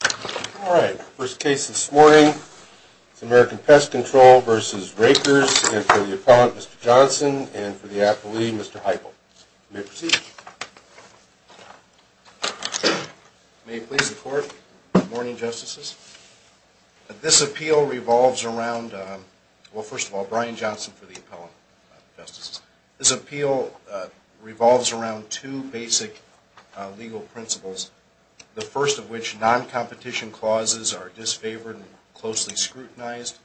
And for the appellate, Mr. Johnson, and for the affilee, Mr. Heigl. You may proceed. May it please the court. Good morning, Justices. This appeal revolves around, well, first of all, Brian Johnson for the appellate, Justices. This appeal revolves around two basic legal principles, the first of which non-competition clauses are disfavored and closely scrutinized,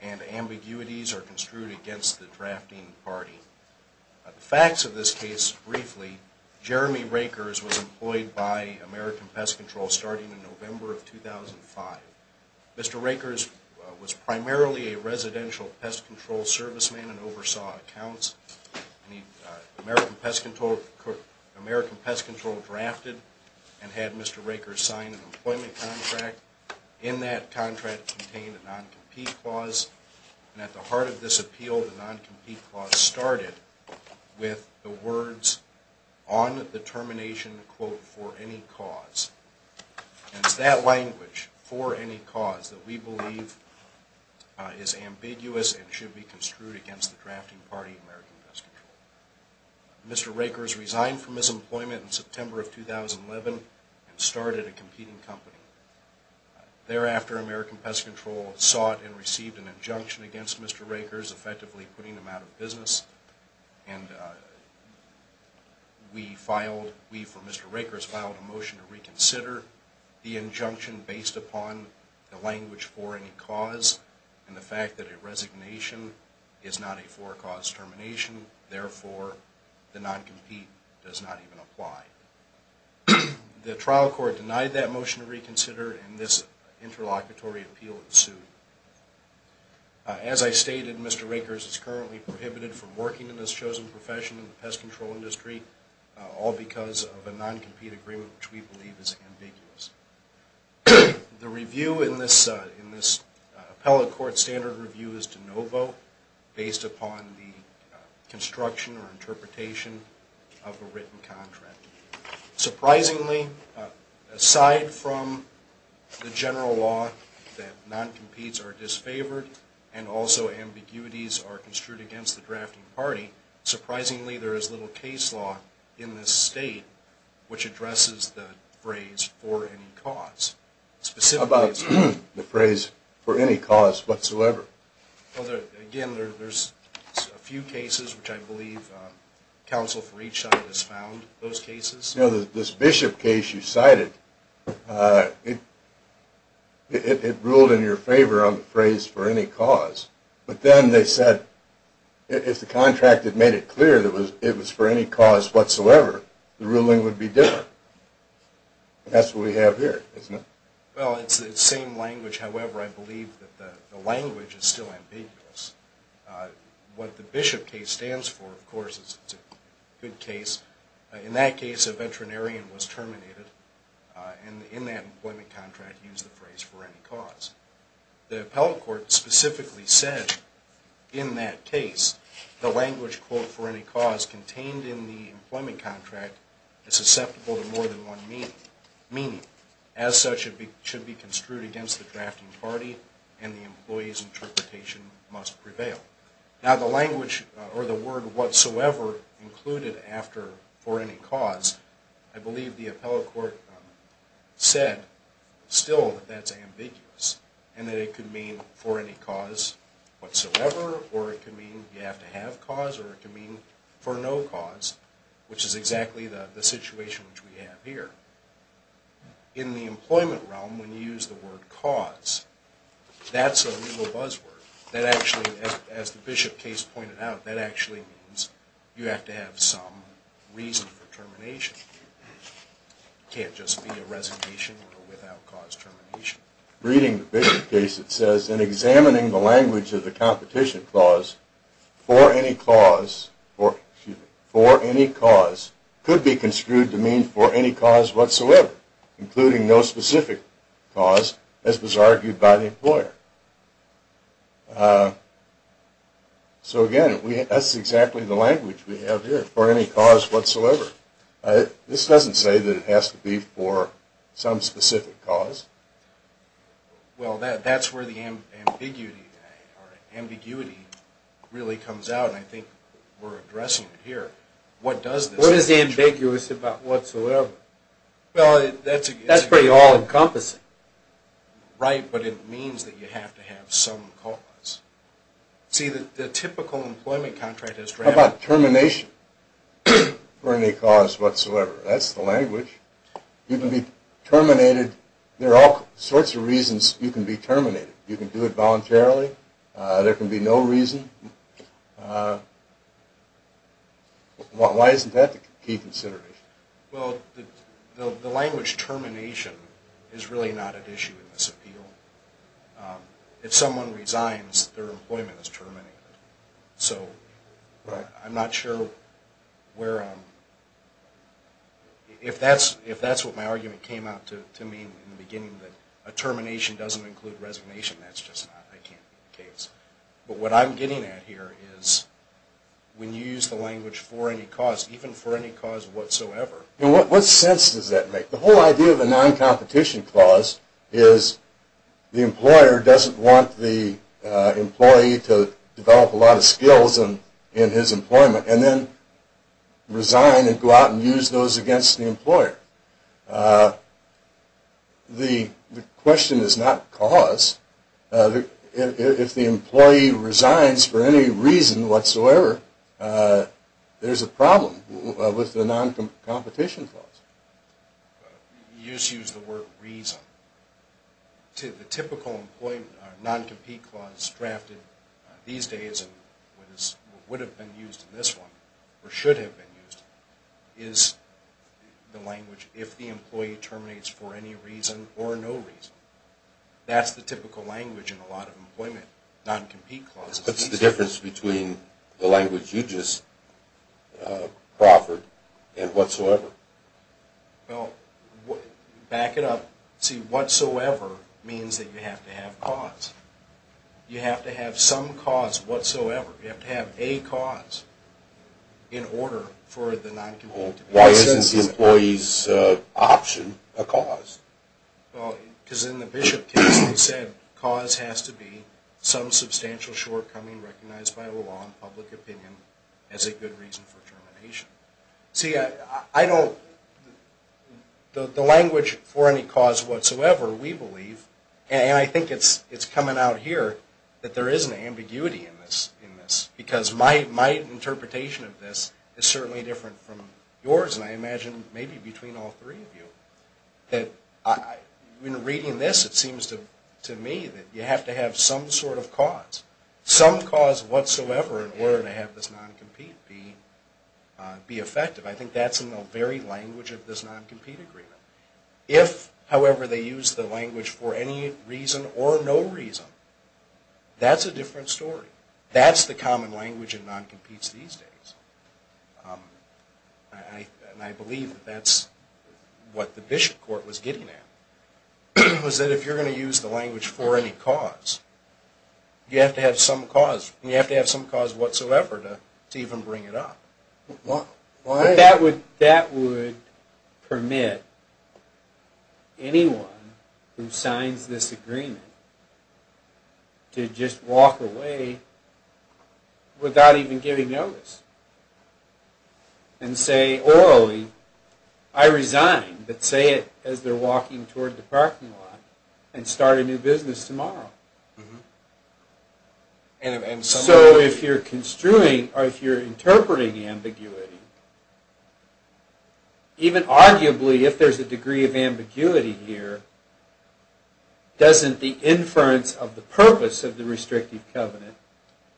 and ambiguities are construed against the drafting party. The facts of this case, briefly, Jeremy Rakers was employed by American Pest Control starting in November of 2005. Mr. Rakers was primarily a residential pest control serviceman and oversaw accounts. American Pest Control drafted and had Mr. Rakers sign an employment contract. In that contract contained a non-compete clause, and at the heart of this appeal, the non-compete clause started with the words, on the termination, quote, for any cause. And it's that language, for any cause, that we believe is ambiguous and should be construed against the drafting party, American Pest Control. Mr. Rakers resigned from his employment in September of 2011 and started a competing company. Thereafter, American Pest Control sought and received an injunction against Mr. Rakers, effectively putting him out of business, and we filed, we for Mr. Rakers filed a motion to reconsider the injunction based upon the language, for any cause, and the fact that a resignation is not a for-cause termination. Therefore, the non-compete does not even apply. The trial court denied that motion to reconsider, and this interlocutory appeal ensued. As I stated, Mr. Rakers is currently prohibited from working in this chosen profession in the pest control industry, all because of a non-compete agreement, which we believe is ambiguous. The review in this appellate court standard review is de novo, based upon the construction or interpretation of the written contract. Surprisingly, aside from the general law that non-competes are disfavored, and also ambiguities are construed against the drafting party, surprisingly there is little case law in this state which addresses the phrase for any cause. How about the phrase for any cause whatsoever? Again, there's a few cases which I believe counsel for each side has found those cases. This Bishop case you cited, it ruled in your favor on the phrase for any cause, but then they said if the contract had made it clear that it was for any cause whatsoever, the ruling would be different. That's what we have here, isn't it? Well, it's the same language. However, I believe that the language is still ambiguous. What the Bishop case stands for, of course, is a good case. In that case, a veterinarian was terminated, and in that employment contract used the phrase for any cause. The appellate court specifically said in that case, the language, quote, for any cause contained in the employment contract is susceptible to more than one meaning. As such, it should be construed against the drafting party and the employee's interpretation must prevail. Now, the language or the word whatsoever included after for any cause, I believe the appellate court said still that that's ambiguous and that it could mean for any cause whatsoever or it could mean you have to have cause or it could mean for no cause, which is exactly the situation which we have here. In the employment realm, when you use the word cause, that's a legal buzzword. That actually, as the Bishop case pointed out, that actually means you have to have some reason for termination. It can't just be a resignation or without cause termination. Reading the Bishop case, it says, in examining the language of the competition clause, for any cause, could be construed to mean for any cause whatsoever, including no specific cause, as was argued by the employer. So again, that's exactly the language we have here, for any cause whatsoever. This doesn't say that it has to be for some specific cause. Well, that's where the ambiguity really comes out, and I think we're addressing it here. What is ambiguous about whatsoever? That's pretty all-encompassing. Right, but it means that you have to have some cause. See, the typical employment contract is... How about termination for any cause whatsoever? That's the language. There are all sorts of reasons you can be terminated. You can do it voluntarily. There can be no reason. Why isn't that the key consideration? Well, the language termination is really not at issue in this appeal. If someone resigns, their employment is terminated. So I'm not sure where... If that's what my argument came out to mean in the beginning, that a termination doesn't include resignation, that's just not the case. But what I'm getting at here is when you use the language for any cause, even for any cause whatsoever... What sense does that make? The whole idea of a non-competition clause is the employer doesn't want the employee to develop a lot of skills in his employment, and then resign and go out and use those against the employer. The question is not cause. If the employee resigns for any reason whatsoever, there's a problem with the non-competition clause. You just used the word reason. The typical non-compete clause drafted these days and would have been used in this one, or should have been used, is the language if the employee terminates for any reason or no reason. That's the typical language in a lot of employment, non-compete clauses. What's the difference between the language you just proffered and whatsoever? Well, back it up. See, whatsoever means that you have to have cause. You have to have some cause whatsoever. You have to have a cause in order for the non-competition clause. Why isn't the employee's option a cause? Because in the Bishop case they said cause has to be some substantial shortcoming recognized by law and public opinion as a good reason for termination. The language for any cause whatsoever, we believe, and I think it's coming out here, that there is an ambiguity in this. Because my interpretation of this is certainly different from yours. And I imagine maybe between all three of you. When reading this, it seems to me that you have to have some sort of cause. Some cause whatsoever in order to have this non-compete be effective. I think that's in the very language of this non-compete agreement. If, however, they use the language for any reason or no reason, that's a different story. That's the common language in non-competes these days. And I believe that's what the Bishop court was getting at. Was that if you're going to use the language for any cause, you have to have some cause. That would permit anyone who signs this agreement to just walk away without even giving notice. And say orally, I resign. But say it as they're walking toward the parking lot and start a new business tomorrow. So if you're construing, or if you're interpreting ambiguity, even arguably if there's a degree of ambiguity here, doesn't the inference of the purpose of the restrictive covenant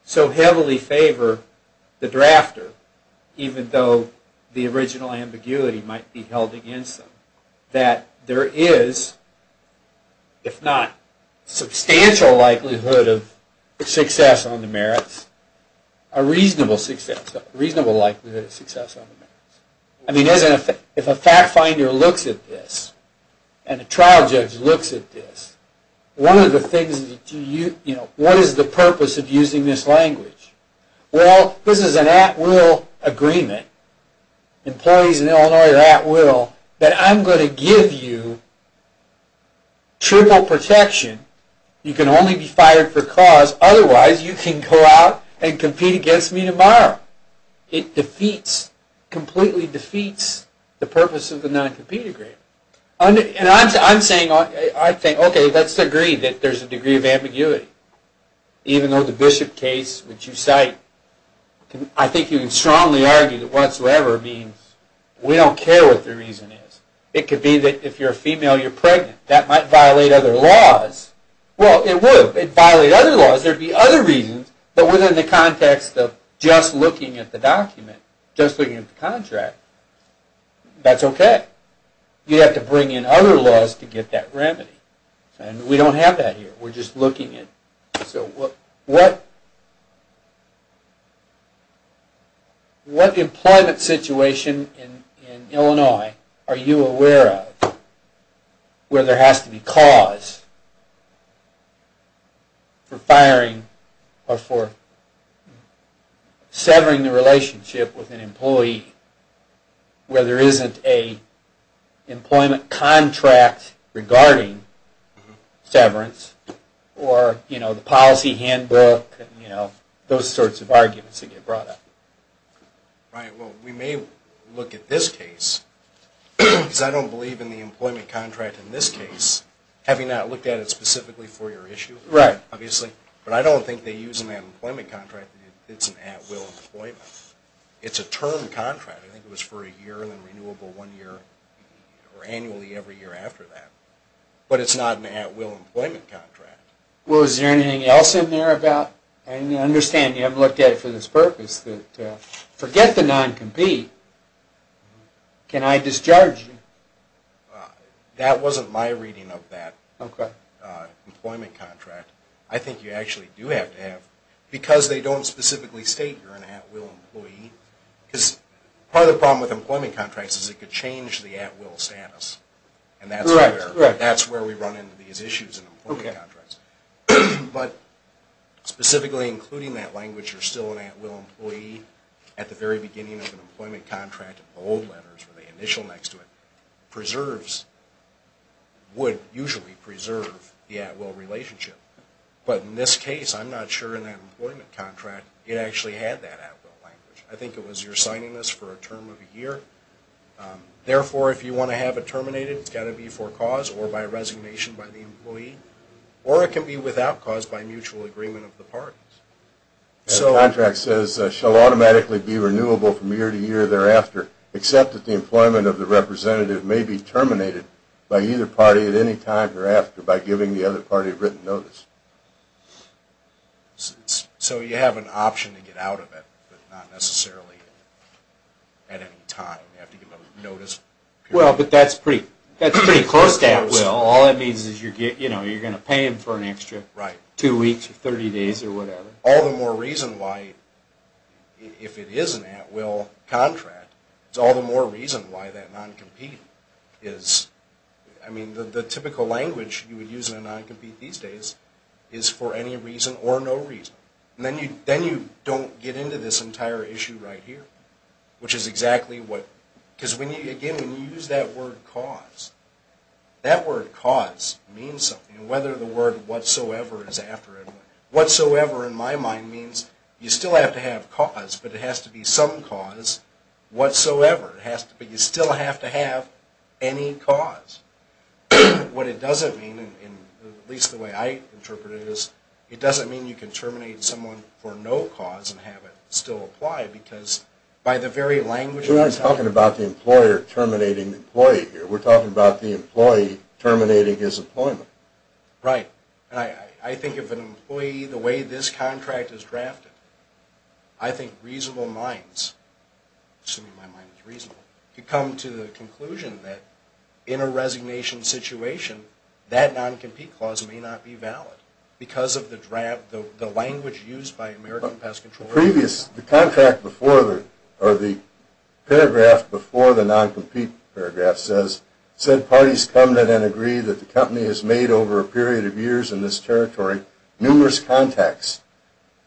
so heavily favor the drafter, even though the original ambiguity might be held against them, that there is, if not substantial likelihood of success on the merits, a reasonable likelihood of success on the merits? If a fact finder looks at this, and a trial judge looks at this, what is the purpose of using this language? Well, this is an at-will agreement. Employees in Illinois are at-will. But I'm going to give you triple protection. You can only be fired for cause. Otherwise, you can go out and compete against me tomorrow. It completely defeats the purpose of the non-compete agreement. And I'm saying, okay, let's agree that there's a degree of ambiguity. Even though the Bishop case, which you cite, I think you can strongly argue that whatsoever means we don't care what the reason is. It could be that if you're a female, you're pregnant. That might violate other laws. Well, it would. It'd violate other laws. But within the context of just looking at the contract, that's okay. You'd have to bring in other laws to get that remedy. We don't have that here. What employment situation in Illinois are you aware of where there has to be cause for firing or for severing the relationship with an employee where there isn't a employment contract regarding severance or the policy handbook and those sorts of arguments that get brought up? Right. Well, we may look at this case because I don't believe in the employment contract in this case, having not looked at it specifically for your issue, obviously. But I don't think they use an employment contract. It's an at-will employment. It's a term contract. I think it was for a year and then renewable one year or annually every year after that. But it's not an at-will employment contract. I understand you haven't looked at it for this purpose. Forget the non-compete. Can I discharge you? That wasn't my reading of that employment contract. I think you actually do have to have, because they don't specifically state you're an at-will employee, because part of the problem with employment contracts is it could change the at-will status. And that's where we run into these issues in employment contracts. But specifically including that language, you're still an at-will employee at the very beginning of an employment contract, the old letters with the initial next to it, would usually preserve the at-will relationship. But in this case, I'm not sure in that employment contract it actually had that at-will language. I think it was you're signing this for a term of a year. Therefore, if you want to have it terminated, it's got to be for cause or by resignation by the employee. Or it can be without cause by mutual agreement of the parties. Contract says, shall automatically be renewable from year to year thereafter, except that the employment of the representative may be terminated by either party at any time thereafter by giving the other party written notice. So you have an option to get out of it, but not necessarily at any time. You have to give a notice. Well, but that's pretty close to at-will. All that means is you're going to pay him for an extra two weeks or 30 days or whatever. All the more reason why, if it is an at-will contract, it's all the more reason why that non-compete is... I mean, the typical language you would use in a non-compete these days is for any reason or no reason. Then you don't get into this entire issue right here, which is exactly what... Because again, when you use that word cause, that word cause means something. And whether the word whatsoever is after it. Whatsoever, in my mind, means you still have to have cause, but it has to be some cause whatsoever. But you still have to have any cause. What it doesn't mean, at least the way I interpret it, is it doesn't mean you can terminate someone for no cause and have it still apply, because by the very language... We're talking about the employer terminating the employee here. We're talking about the employee terminating his employment. Right. And I think if an employee, the way this contract is drafted, I think reasonable minds, assuming my mind is reasonable, could come to the conclusion that in a resignation situation, that non-compete clause may not be valid because of the language used by American Pest Control. The paragraph before the non-compete paragraph says, said parties come to then agree that the company has made over a period of years in this territory numerous contacts,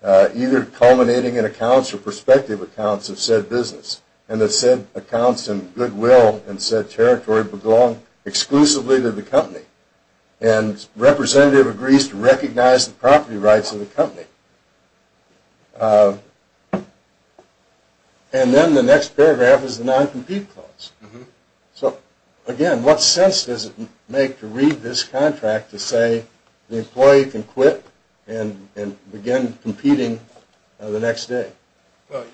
either culminating in accounts or prospective accounts of said business, and that said accounts and goodwill in said territory belong exclusively to the company. And representative agrees to recognize the property rights of the company. And then the next paragraph is the non-compete clause. So again, what sense does it make to read this contract to say the employee can quit and begin competing the next day? Well,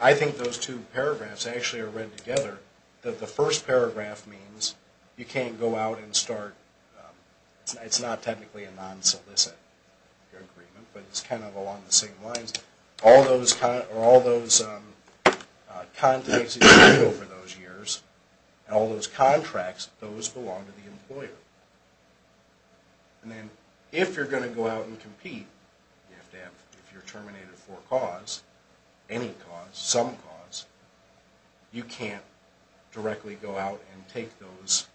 I think those two paragraphs actually are read together. The first paragraph means you can't go out and start, it's not technically a non-solicit agreement, but it's kind of along the same lines. All those contacts you've made over those years, and all those contracts, those belong to the employer. And then if you're going to go out and compete, you have to have, if you're terminated for a cause, any cause, some cause, you can't directly go out and take those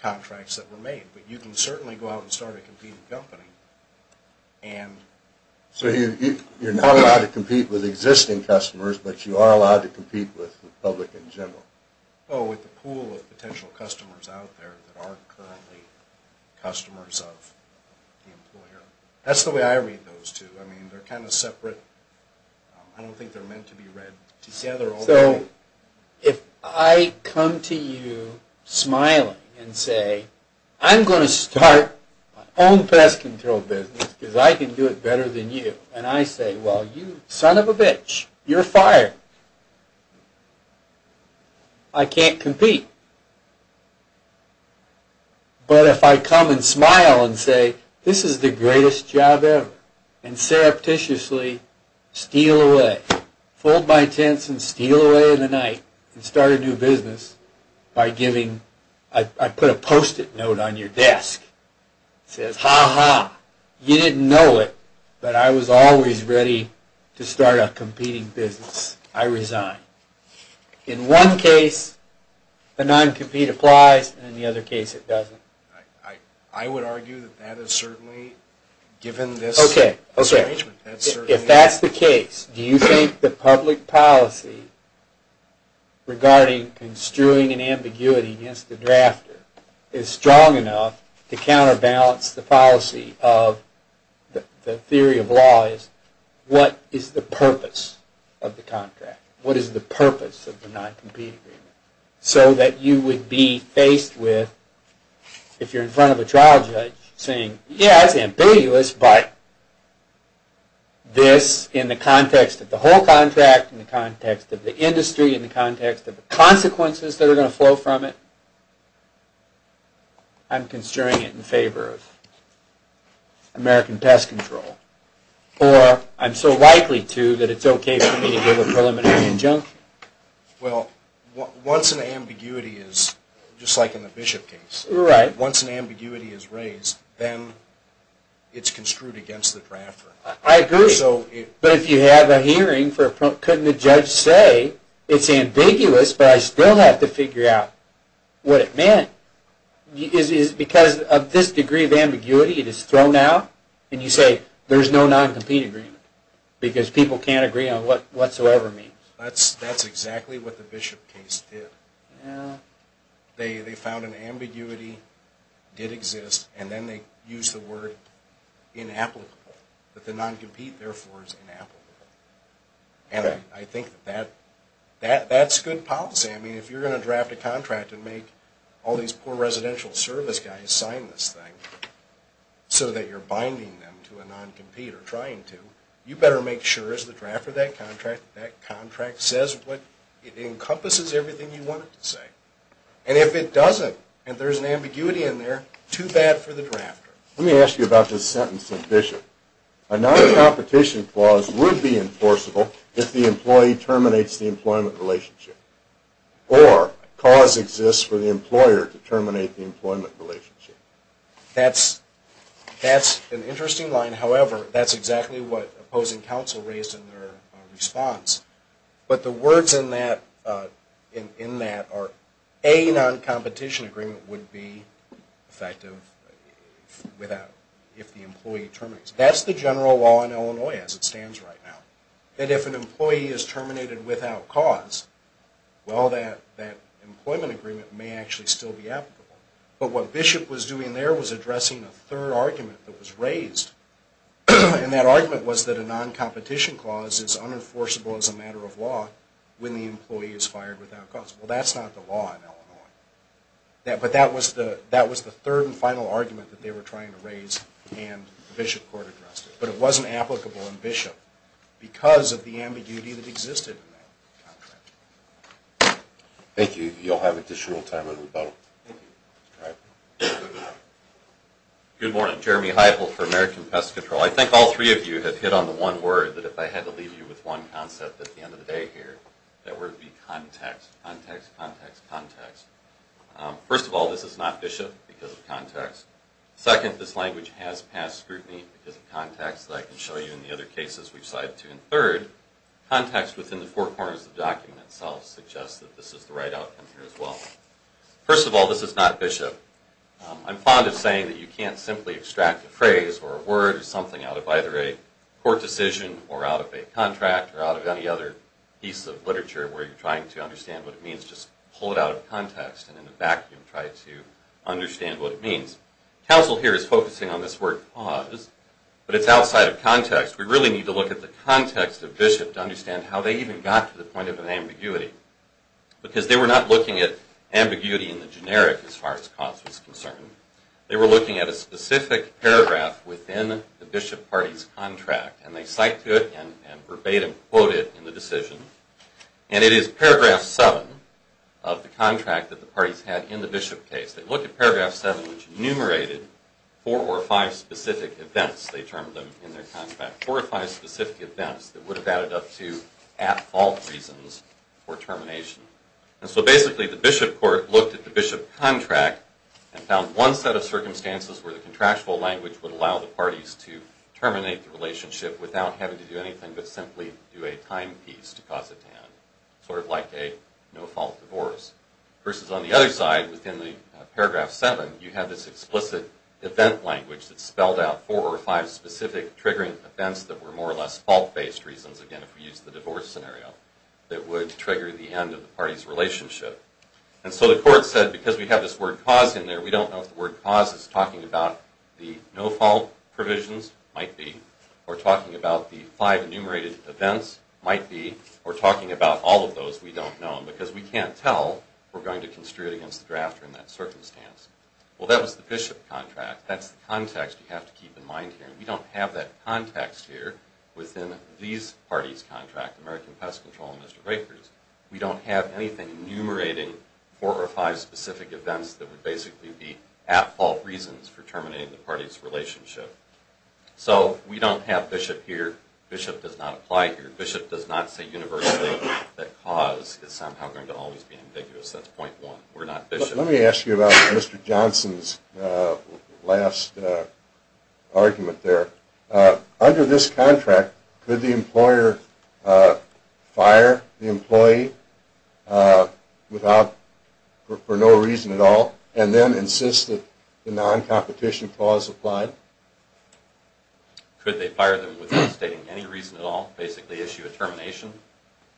contracts that were made. But you can certainly go out and start a competing company. So you're not allowed to compete with existing customers, but you are allowed to compete with the public in general. Oh, with the pool of potential customers out there that are currently customers of the employer. That's the way I read those two. I mean, they're kind of separate. I don't think they're meant to be read together. So if I come to you smiling and say, I'm going to start my own pest control business because I can do it better than you, and I say, well, you son of a bitch, you're fired. I can't compete. But if I come and smile and say, this is the greatest job ever, and surreptitiously steal away, fold my tents and steal away in the night and start a new business by giving, I put a post-it note on your desk that says, ha ha, you didn't know it, but I was always ready to start a competing business. I resign. In one case, a non-compete applies, and in the other case it doesn't. I would argue that that is certainly given this arrangement. If that's the case, do you think the public policy regarding construing an ambiguity against the drafter is strong enough to counterbalance the policy of the theory of law is, what is the purpose of the contract? What is the purpose of the non-compete agreement? So that you would be faced with, if you're in front of a trial judge, saying, yeah, it's ambiguous, but this, in the context of the whole contract, in the context of the industry, in the context of the consequences that are going to flow from it, I'm construing it in favor of American pest control, or I'm so likely to that it's okay for me to give a preliminary injunction. Well, once an ambiguity is, just like in the Bishop case, once an ambiguity is raised, then it's construed against the drafter. I agree, but if you have a hearing, couldn't the judge say, it's ambiguous, but I still have to figure out what it meant? Because of this degree of ambiguity, it is thrown out, and you say, there's no non-compete agreement, because people can't agree on what whatsoever means. That's exactly what the Bishop case did. They found an ambiguity did exist, and then they used the word inapplicable. That the non-compete, therefore, is inapplicable. And I think that that's good policy. I mean, if you're going to draft a contract and make all these poor residential service guys sign this thing so that you're binding them to a non-compete or trying to, you better make sure, as the drafter of that contract, that contract says what it encompasses everything you want it to say. And if it doesn't, and there's an ambiguity in there, too bad for the drafter. Let me ask you about this sentence in Bishop. A non-competition clause would be enforceable if the employee terminates the employment relationship. Or, cause exists for the employer to terminate the employment relationship. That's an interesting line. However, that's exactly what opposing counsel raised in their response. But the words in that are A, non-competition agreement would be effective if the employee terminates. That's the general law in Illinois as it stands right now. That if an employee is terminated without cause, well, that employment agreement may actually still be applicable. But what Bishop was doing there was addressing a third argument that was raised. And that argument was that a non-competition clause is unenforceable as a matter of law when the employee is fired without cause. Well, that's not the law in Illinois. But that was the third and final argument that they were trying to raise and Bishop Court addressed it. But it wasn't applicable in Bishop because of the ambiguity that existed in that contract. Thank you. You'll have additional time in the middle. Good morning. Jeremy Heifel for American Pest Control. I think all three of you have hit on the one word that if I had to leave you with one concept at the end of the day here, that would be context, context, context, context. First of all, this is not Bishop because of context. Second, this language has past scrutiny because of context that I can show you in the other cases we've cited. And third, context within the four corners of the document itself suggests that this is the right outcome here as well. First of all, this is not Bishop. I'm fond of saying that you can't simply extract a phrase or a word or something out of either a court decision or out of a contract or out of any other piece of literature where you're trying to understand what it means. Just pull it out of context and in a vacuum try to understand what it means. Counsel here is focusing on this word cause, but it's outside of context. We really need to look at the context of Bishop to understand how they even got to the point of an ambiguity because they were not looking at ambiguity in the generic as far as cause was concerned. They were looking at a specific paragraph within the Bishop party's contract and they cite to it and verbatim quote it in the decision. And it is paragraph seven of the contract that the parties had in the Bishop case. They looked at paragraph seven which enumerated four or five specific events they termed them in their contract. Four or five specific events that would have added up to at fault reasons for termination. And so basically the Bishop court looked at the Bishop contract and found one set of circumstances where the contractual language would allow the parties to terminate the relationship without having to do anything but simply do a time piece to cause it to end. Sort of like a no fault divorce. Versus on the other side within the paragraph seven you have this explicit event language that spelled out four or five specific triggering events that were more or less fault based reasons, again if we use the divorce scenario, that would trigger the end of the parties relationship. And so the court said because we have this word cause in there we don't know if the word cause is talking about the no fault provisions, might be, or talking about the five enumerated events, might be, or talking about all of those we don't know. Because we can't tell if we're going to construe it against the drafter in that circumstance. Well that was the Bishop contract. That's the context you have to keep in mind here. We don't have that context here within these parties contract, American Pest Control and Mr. Rakers. We don't have anything enumerating four or five specific events that would basically be at fault reasons for terminating the parties relationship. So we don't have Bishop here. Bishop does not apply here. Bishop does not say universally that cause is somehow going to always be ambiguous. That's point one. We're not Bishop. Let me ask you about Mr. Johnson's last argument there. Under this contract, could the employer fire the employee without, for no reason at all, and then insist that the non-competition clause applied? Could they fire them without stating any reason at all? Basically issue a termination?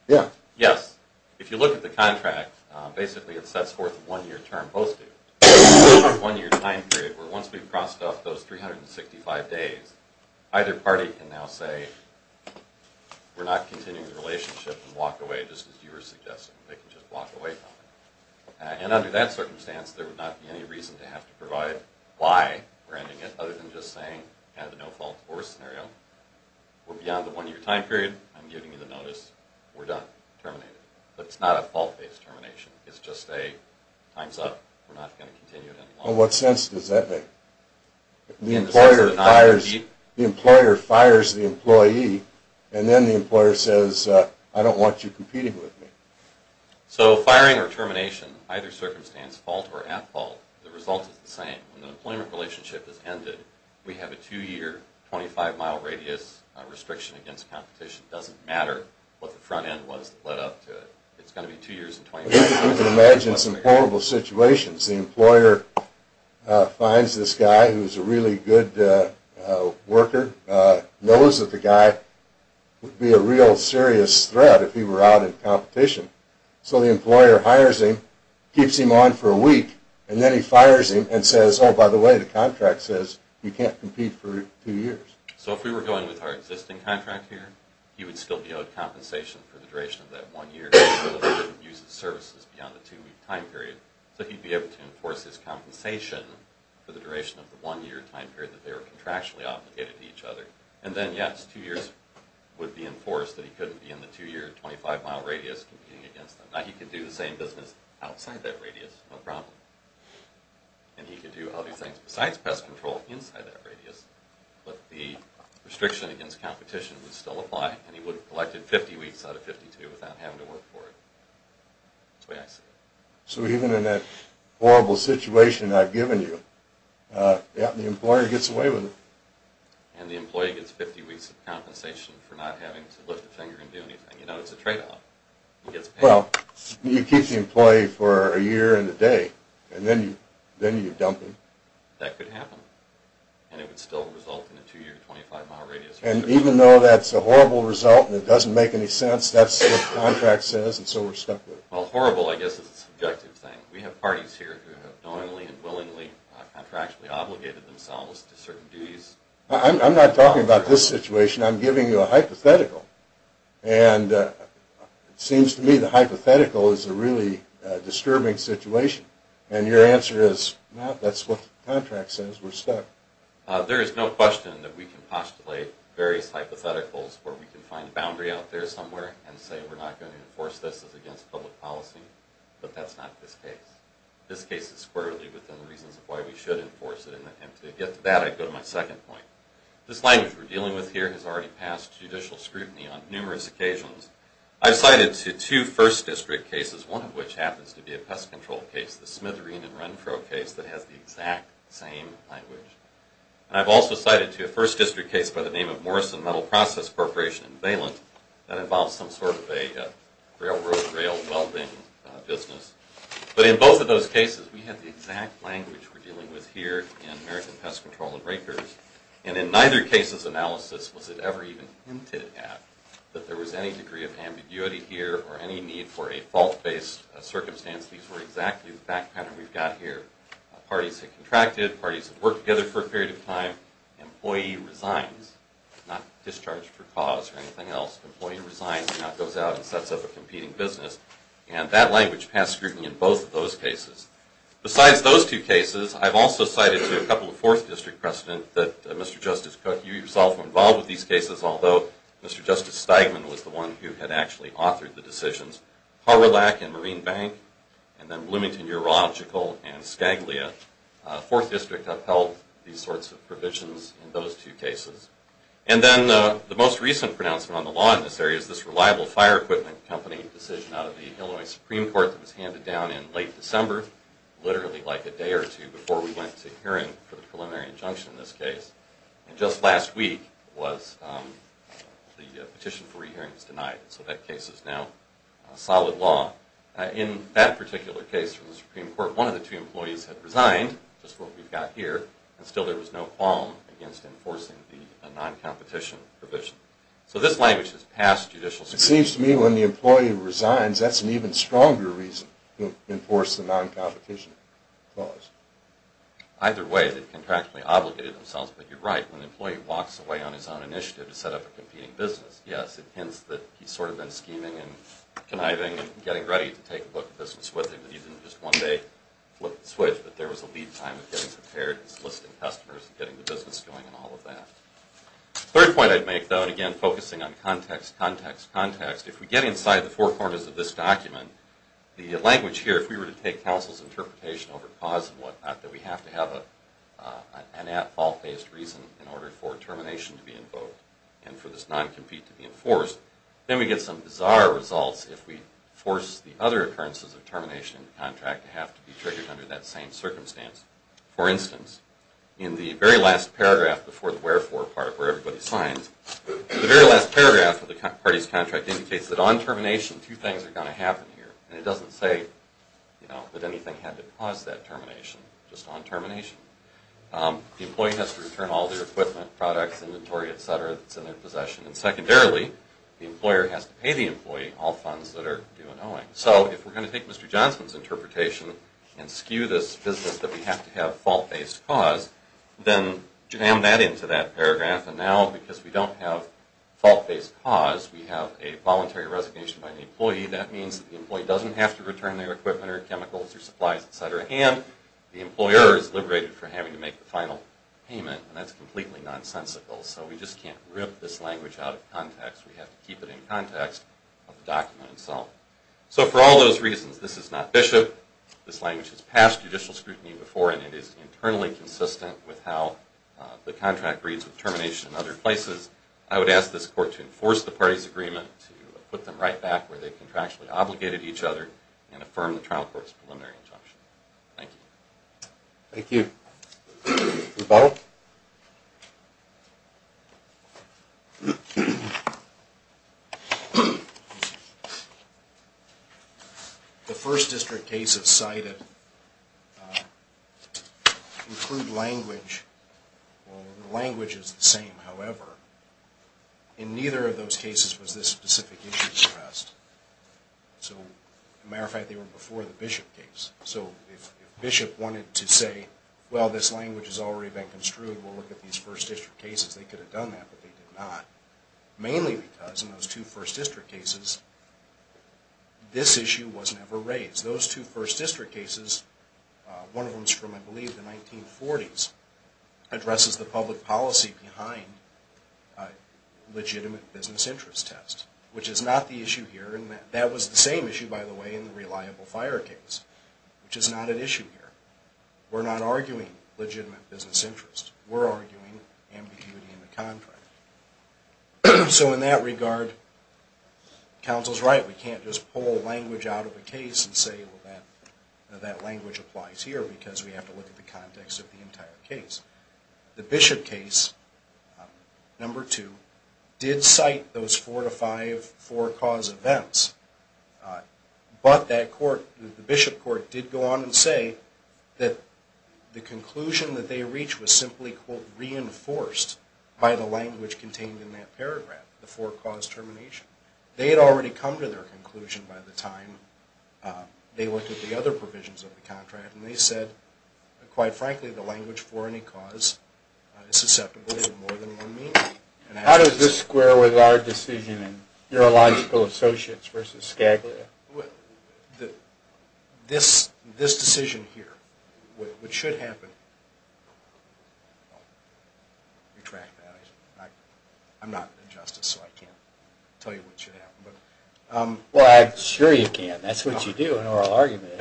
Yeah. Yes. If you look at the contract, basically it sets forth a one year term posted. One year time period where once we've terminated, I'll say we're not continuing the relationship and walk away just as you were suggesting. They can just walk away from it. And under that circumstance, there would not be any reason to have to provide why we're ending it other than just saying we have a no fault divorce scenario. We're beyond the one year time period. I'm giving you the notice. We're done. Terminated. It's not a fault based termination. It's just a time's up. We're not going to continue it any longer. In what sense does that make? The employer fires the employee, and then the employer says, I don't want you competing with me. So firing or termination, either circumstance, fault or at fault, the result is the same. When the employment relationship is ended, we have a two year, 25 mile radius restriction against competition. It doesn't matter what the front end was that led up to it. You can imagine some horrible situations. The employer finds this guy who's a really good worker, knows that the guy would be a real serious threat if he were out in competition. So the employer hires him, keeps him on for a week, and then he fires him and says, oh, by the way, the contract says you can't compete for two years. So if we were going with our existing contract here, he would still be owed compensation for the duration of that one year. He wouldn't be able to use the services beyond the two week time period. So he'd be able to enforce his compensation for the duration of the one year time period that they were contractually obligated to each other. And then yes, two years would be enforced that he couldn't be in the two year, 25 mile radius competing against them. Now he could do the same business outside that radius, no problem. And he could do other things besides pest control inside that radius, but the restriction against competition would still apply, and he would have collected 50 weeks out of 52 without having to work for it. That's the way I see it. So even in that horrible situation I've given you, the employer gets away with it. And the employee gets 50 weeks of compensation for not having to lift a finger and do anything. You know, it's a tradeoff. He gets paid. Well, you keep the employee for a year and a day, and then you dump him. That could happen, and it would still result in a two year, 25 mile radius. And even though that's a horrible result and it doesn't make any sense, that's what the contract says, and so we're stuck with it. Well, horrible I guess is a subjective thing. We have parties here who have knowingly and willingly contractually obligated themselves to certain duties. I'm not talking about this situation. I'm giving you a hypothetical. And it seems to me the hypothetical is a really disturbing situation. And your answer is, no, that's what the contract says. We're stuck. There is no question that we can postulate various hypotheticals where we can find a boundary out there somewhere and say we're not going to enforce this as against public policy, but that's not this case. This case is squarely within the reasons of why we should enforce it, and to get to that I'd go to my second point. This language we're dealing with here has already passed judicial scrutiny on numerous occasions. I've cited to two first district cases, one of which happens to be a pest control case, the Smithereen and Renfro case that has the exact same language. And I've also cited to a first district case by the name of Morrison Metal Process Corporation in Valence that involves some sort of a railroad rail welding business. But in both of those cases we have the exact language we're dealing with here in American Pest Control and Rakers. And in neither case's analysis was it ever even hinted at that there was any degree of ambiguity here or any need for a fault-based circumstance. These were exactly the back pattern we've got here. Parties have contracted, parties have worked together for a period of time, employee resigns, not discharged for cause or anything else. Employee resigns and now goes out and sets up a competing business. And that language passed scrutiny in both of those cases. Besides those two cases, I've also cited to a couple of fourth district precedent that Mr. Justice Cook, you yourself were involved with these cases, although Mr. Justice Steigman was the one who had actually authored the decisions. Harwellack and Marine Bank, and then Bloomington Urological and Scaglia. Fourth district upheld these sorts of provisions in those two cases. And then the most recent pronouncement on the law in this area is this reliable fire equipment company decision out of the Illinois Supreme Court that was handed down in late December, literally like a day or two before we went to hearing for the preliminary injunction in this case. And just last week was the petition for re-hearing was denied. So that case is now solid law. In that particular case from the Supreme Court, one of the two employees had resigned, just what we've got here, and still there was no qualm against enforcing the non-competition provision. So this language has passed judicial scrutiny. It seems to me when the employee resigns, that's an even stronger reason to enforce the non-competition clause. Either way, they've contractually obligated themselves, but you're right. When an employee walks away on his own initiative to set up a competing business, yes, it hints that he's sort of been scheming and conniving and getting ready to take a look at business with him. He didn't just one day flip the switch, but there was a lead time of getting prepared and soliciting customers and getting the business going and all of that. Third point I'd make, though, and again focusing on context, context, context. If we get inside the four corners of this document, the language here, if we were to take counsel's interpretation over cause and what not, that we have to have an at-fault based reason in order for termination to be invoked and for this non-compete to be enforced, then we get some bizarre results if we force the other occurrences of termination in the contract to have to be triggered under that same circumstance. For instance, in the very last paragraph before the wherefore part where everybody signs, the very last paragraph of the party's contract indicates that on termination two things are going to happen here and it doesn't say that anything had to cause that termination, just on termination. The employee has to return all their equipment, products, inventory, etc. that's in their possession and secondarily, the employer has to pay the employee all funds that are due and owing. So if we're going to take Mr. Johnson's interpretation and skew this business that we have to have fault-based cause, then jam that into that paragraph and now because we don't have fault-based cause, we have a voluntary resignation by the employee. That means that the employee doesn't have to return their equipment or chemicals or supplies, etc. and the employer is liberated from having to make the final payment and that's completely nonsensical. So we just can't rip this language out of context. We have to keep it in context of the document itself. So for all those reasons, this is not Bishop. This language has passed judicial scrutiny before and it is internally consistent with how the contract reads with termination in other places. I would ask this court to enforce the party's agreement to put them right back where they contractually obligated each other and affirm the trial court's preliminary injunction. Thank you. Thank you. Rebuttal. The first district cases cited include language. The language is the same, however. In neither of those cases was this specific issue addressed. As a matter of fact, they were before the Bishop case. So if Bishop wanted to say, well, this language has already been construed, we'll look at these first district cases, they could have done that, but they did not. Mainly because in those two first district cases, this issue was never raised. Those two first district cases, one of them is from, I believe, the 1940s, addresses the public policy behind a legitimate business interest test, which is not the issue here. And that was the same issue, by the way, in the Reliable Fire case, which is not an issue here. We're not arguing legitimate business interest. We're arguing ambiguity in the contract. So in that regard, counsel's right. We can't just pull language out of a case and say, well, that language applies here, because we have to look at the context of the entire case. The Bishop case, number two, did cite those four-to-five forecaused events. But that court, the Bishop court, did go on and say that the conclusion that they reached was simply, quote, reinforced by the language contained in that paragraph, the forecaused termination. They had already come to their conclusion by the time they looked at the other provisions of the contract, and they said, quite frankly, the language for any cause is susceptible to more than one meaning. This decision here, which should happen, I'm not a justice, so I can't tell you what should happen. Well, sure you can. That's what you do in oral argument.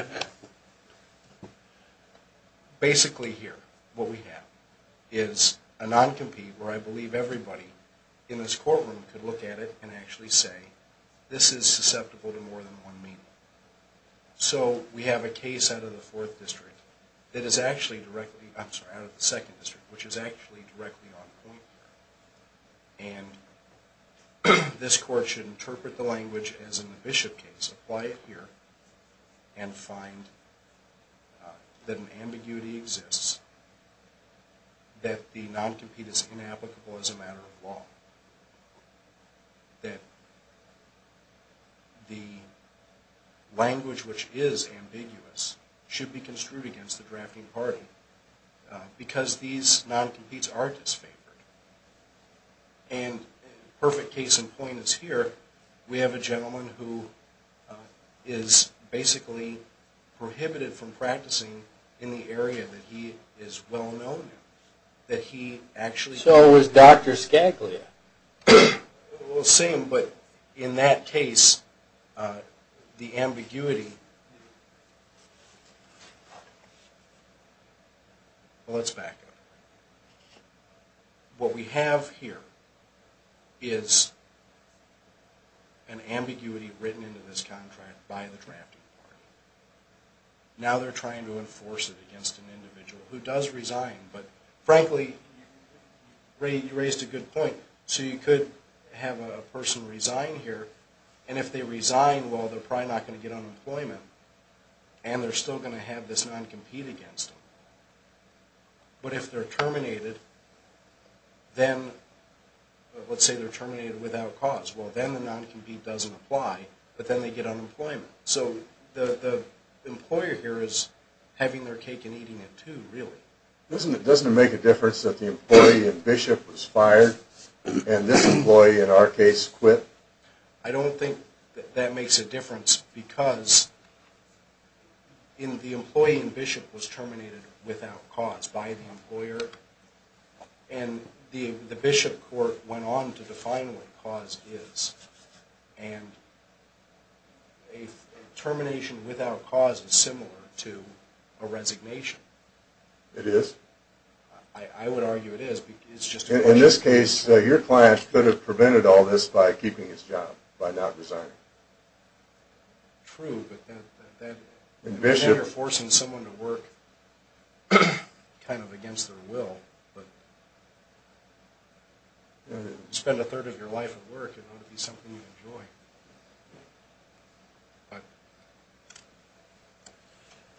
Basically here, what we have is a non-compete where I believe everybody in this courtroom could look at it and actually say, this is susceptible to more than one meaning. So we have a case out of the fourth district that is actually directly, I'm sorry, out of the second district, which is actually directly on point here. This court should interpret the language as in the Bishop case, apply it here, and find that an ambiguity exists, that the non-compete is inapplicable as a matter of law, that the language which is ambiguous should be construed against the drafting party because these non-competes are disfavored. Perfect case in point is here. We have a gentleman who is basically prohibited from practicing in the area that he is well known in. So is Dr. Skaglia. Well, same, but in that case, the ambiguity... Well, let's back up. What we have here is an ambiguity written into this contract by the drafting party. Now they're trying to enforce it against an individual who does resign, but frankly, you raised a good point. So you could have a person resign here, and if they resign, well, they're probably not going to get unemployment, and they're still going to have this non-compete against them. But if they're terminated, then, let's say they're terminated without cause, well, then the non-compete doesn't apply, but then they get unemployment. So the employer here is having their cake and eating it, too, really. Doesn't it make a difference that the employee in Bishop was fired, and this employee, in our case, quit? I don't think that makes a difference because the employee in Bishop was terminated without cause by the employer, and the Bishop court went on to define what cause is, and a termination without cause is similar to a resignation. It is? I would argue it is. In this case, your client could have prevented all this by keeping his job, by not resigning. True, but then you're forcing someone to work kind of against their will, but you spend a third of your life at work, it ought to be something you enjoy.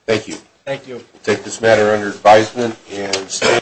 Thank you. Thank you.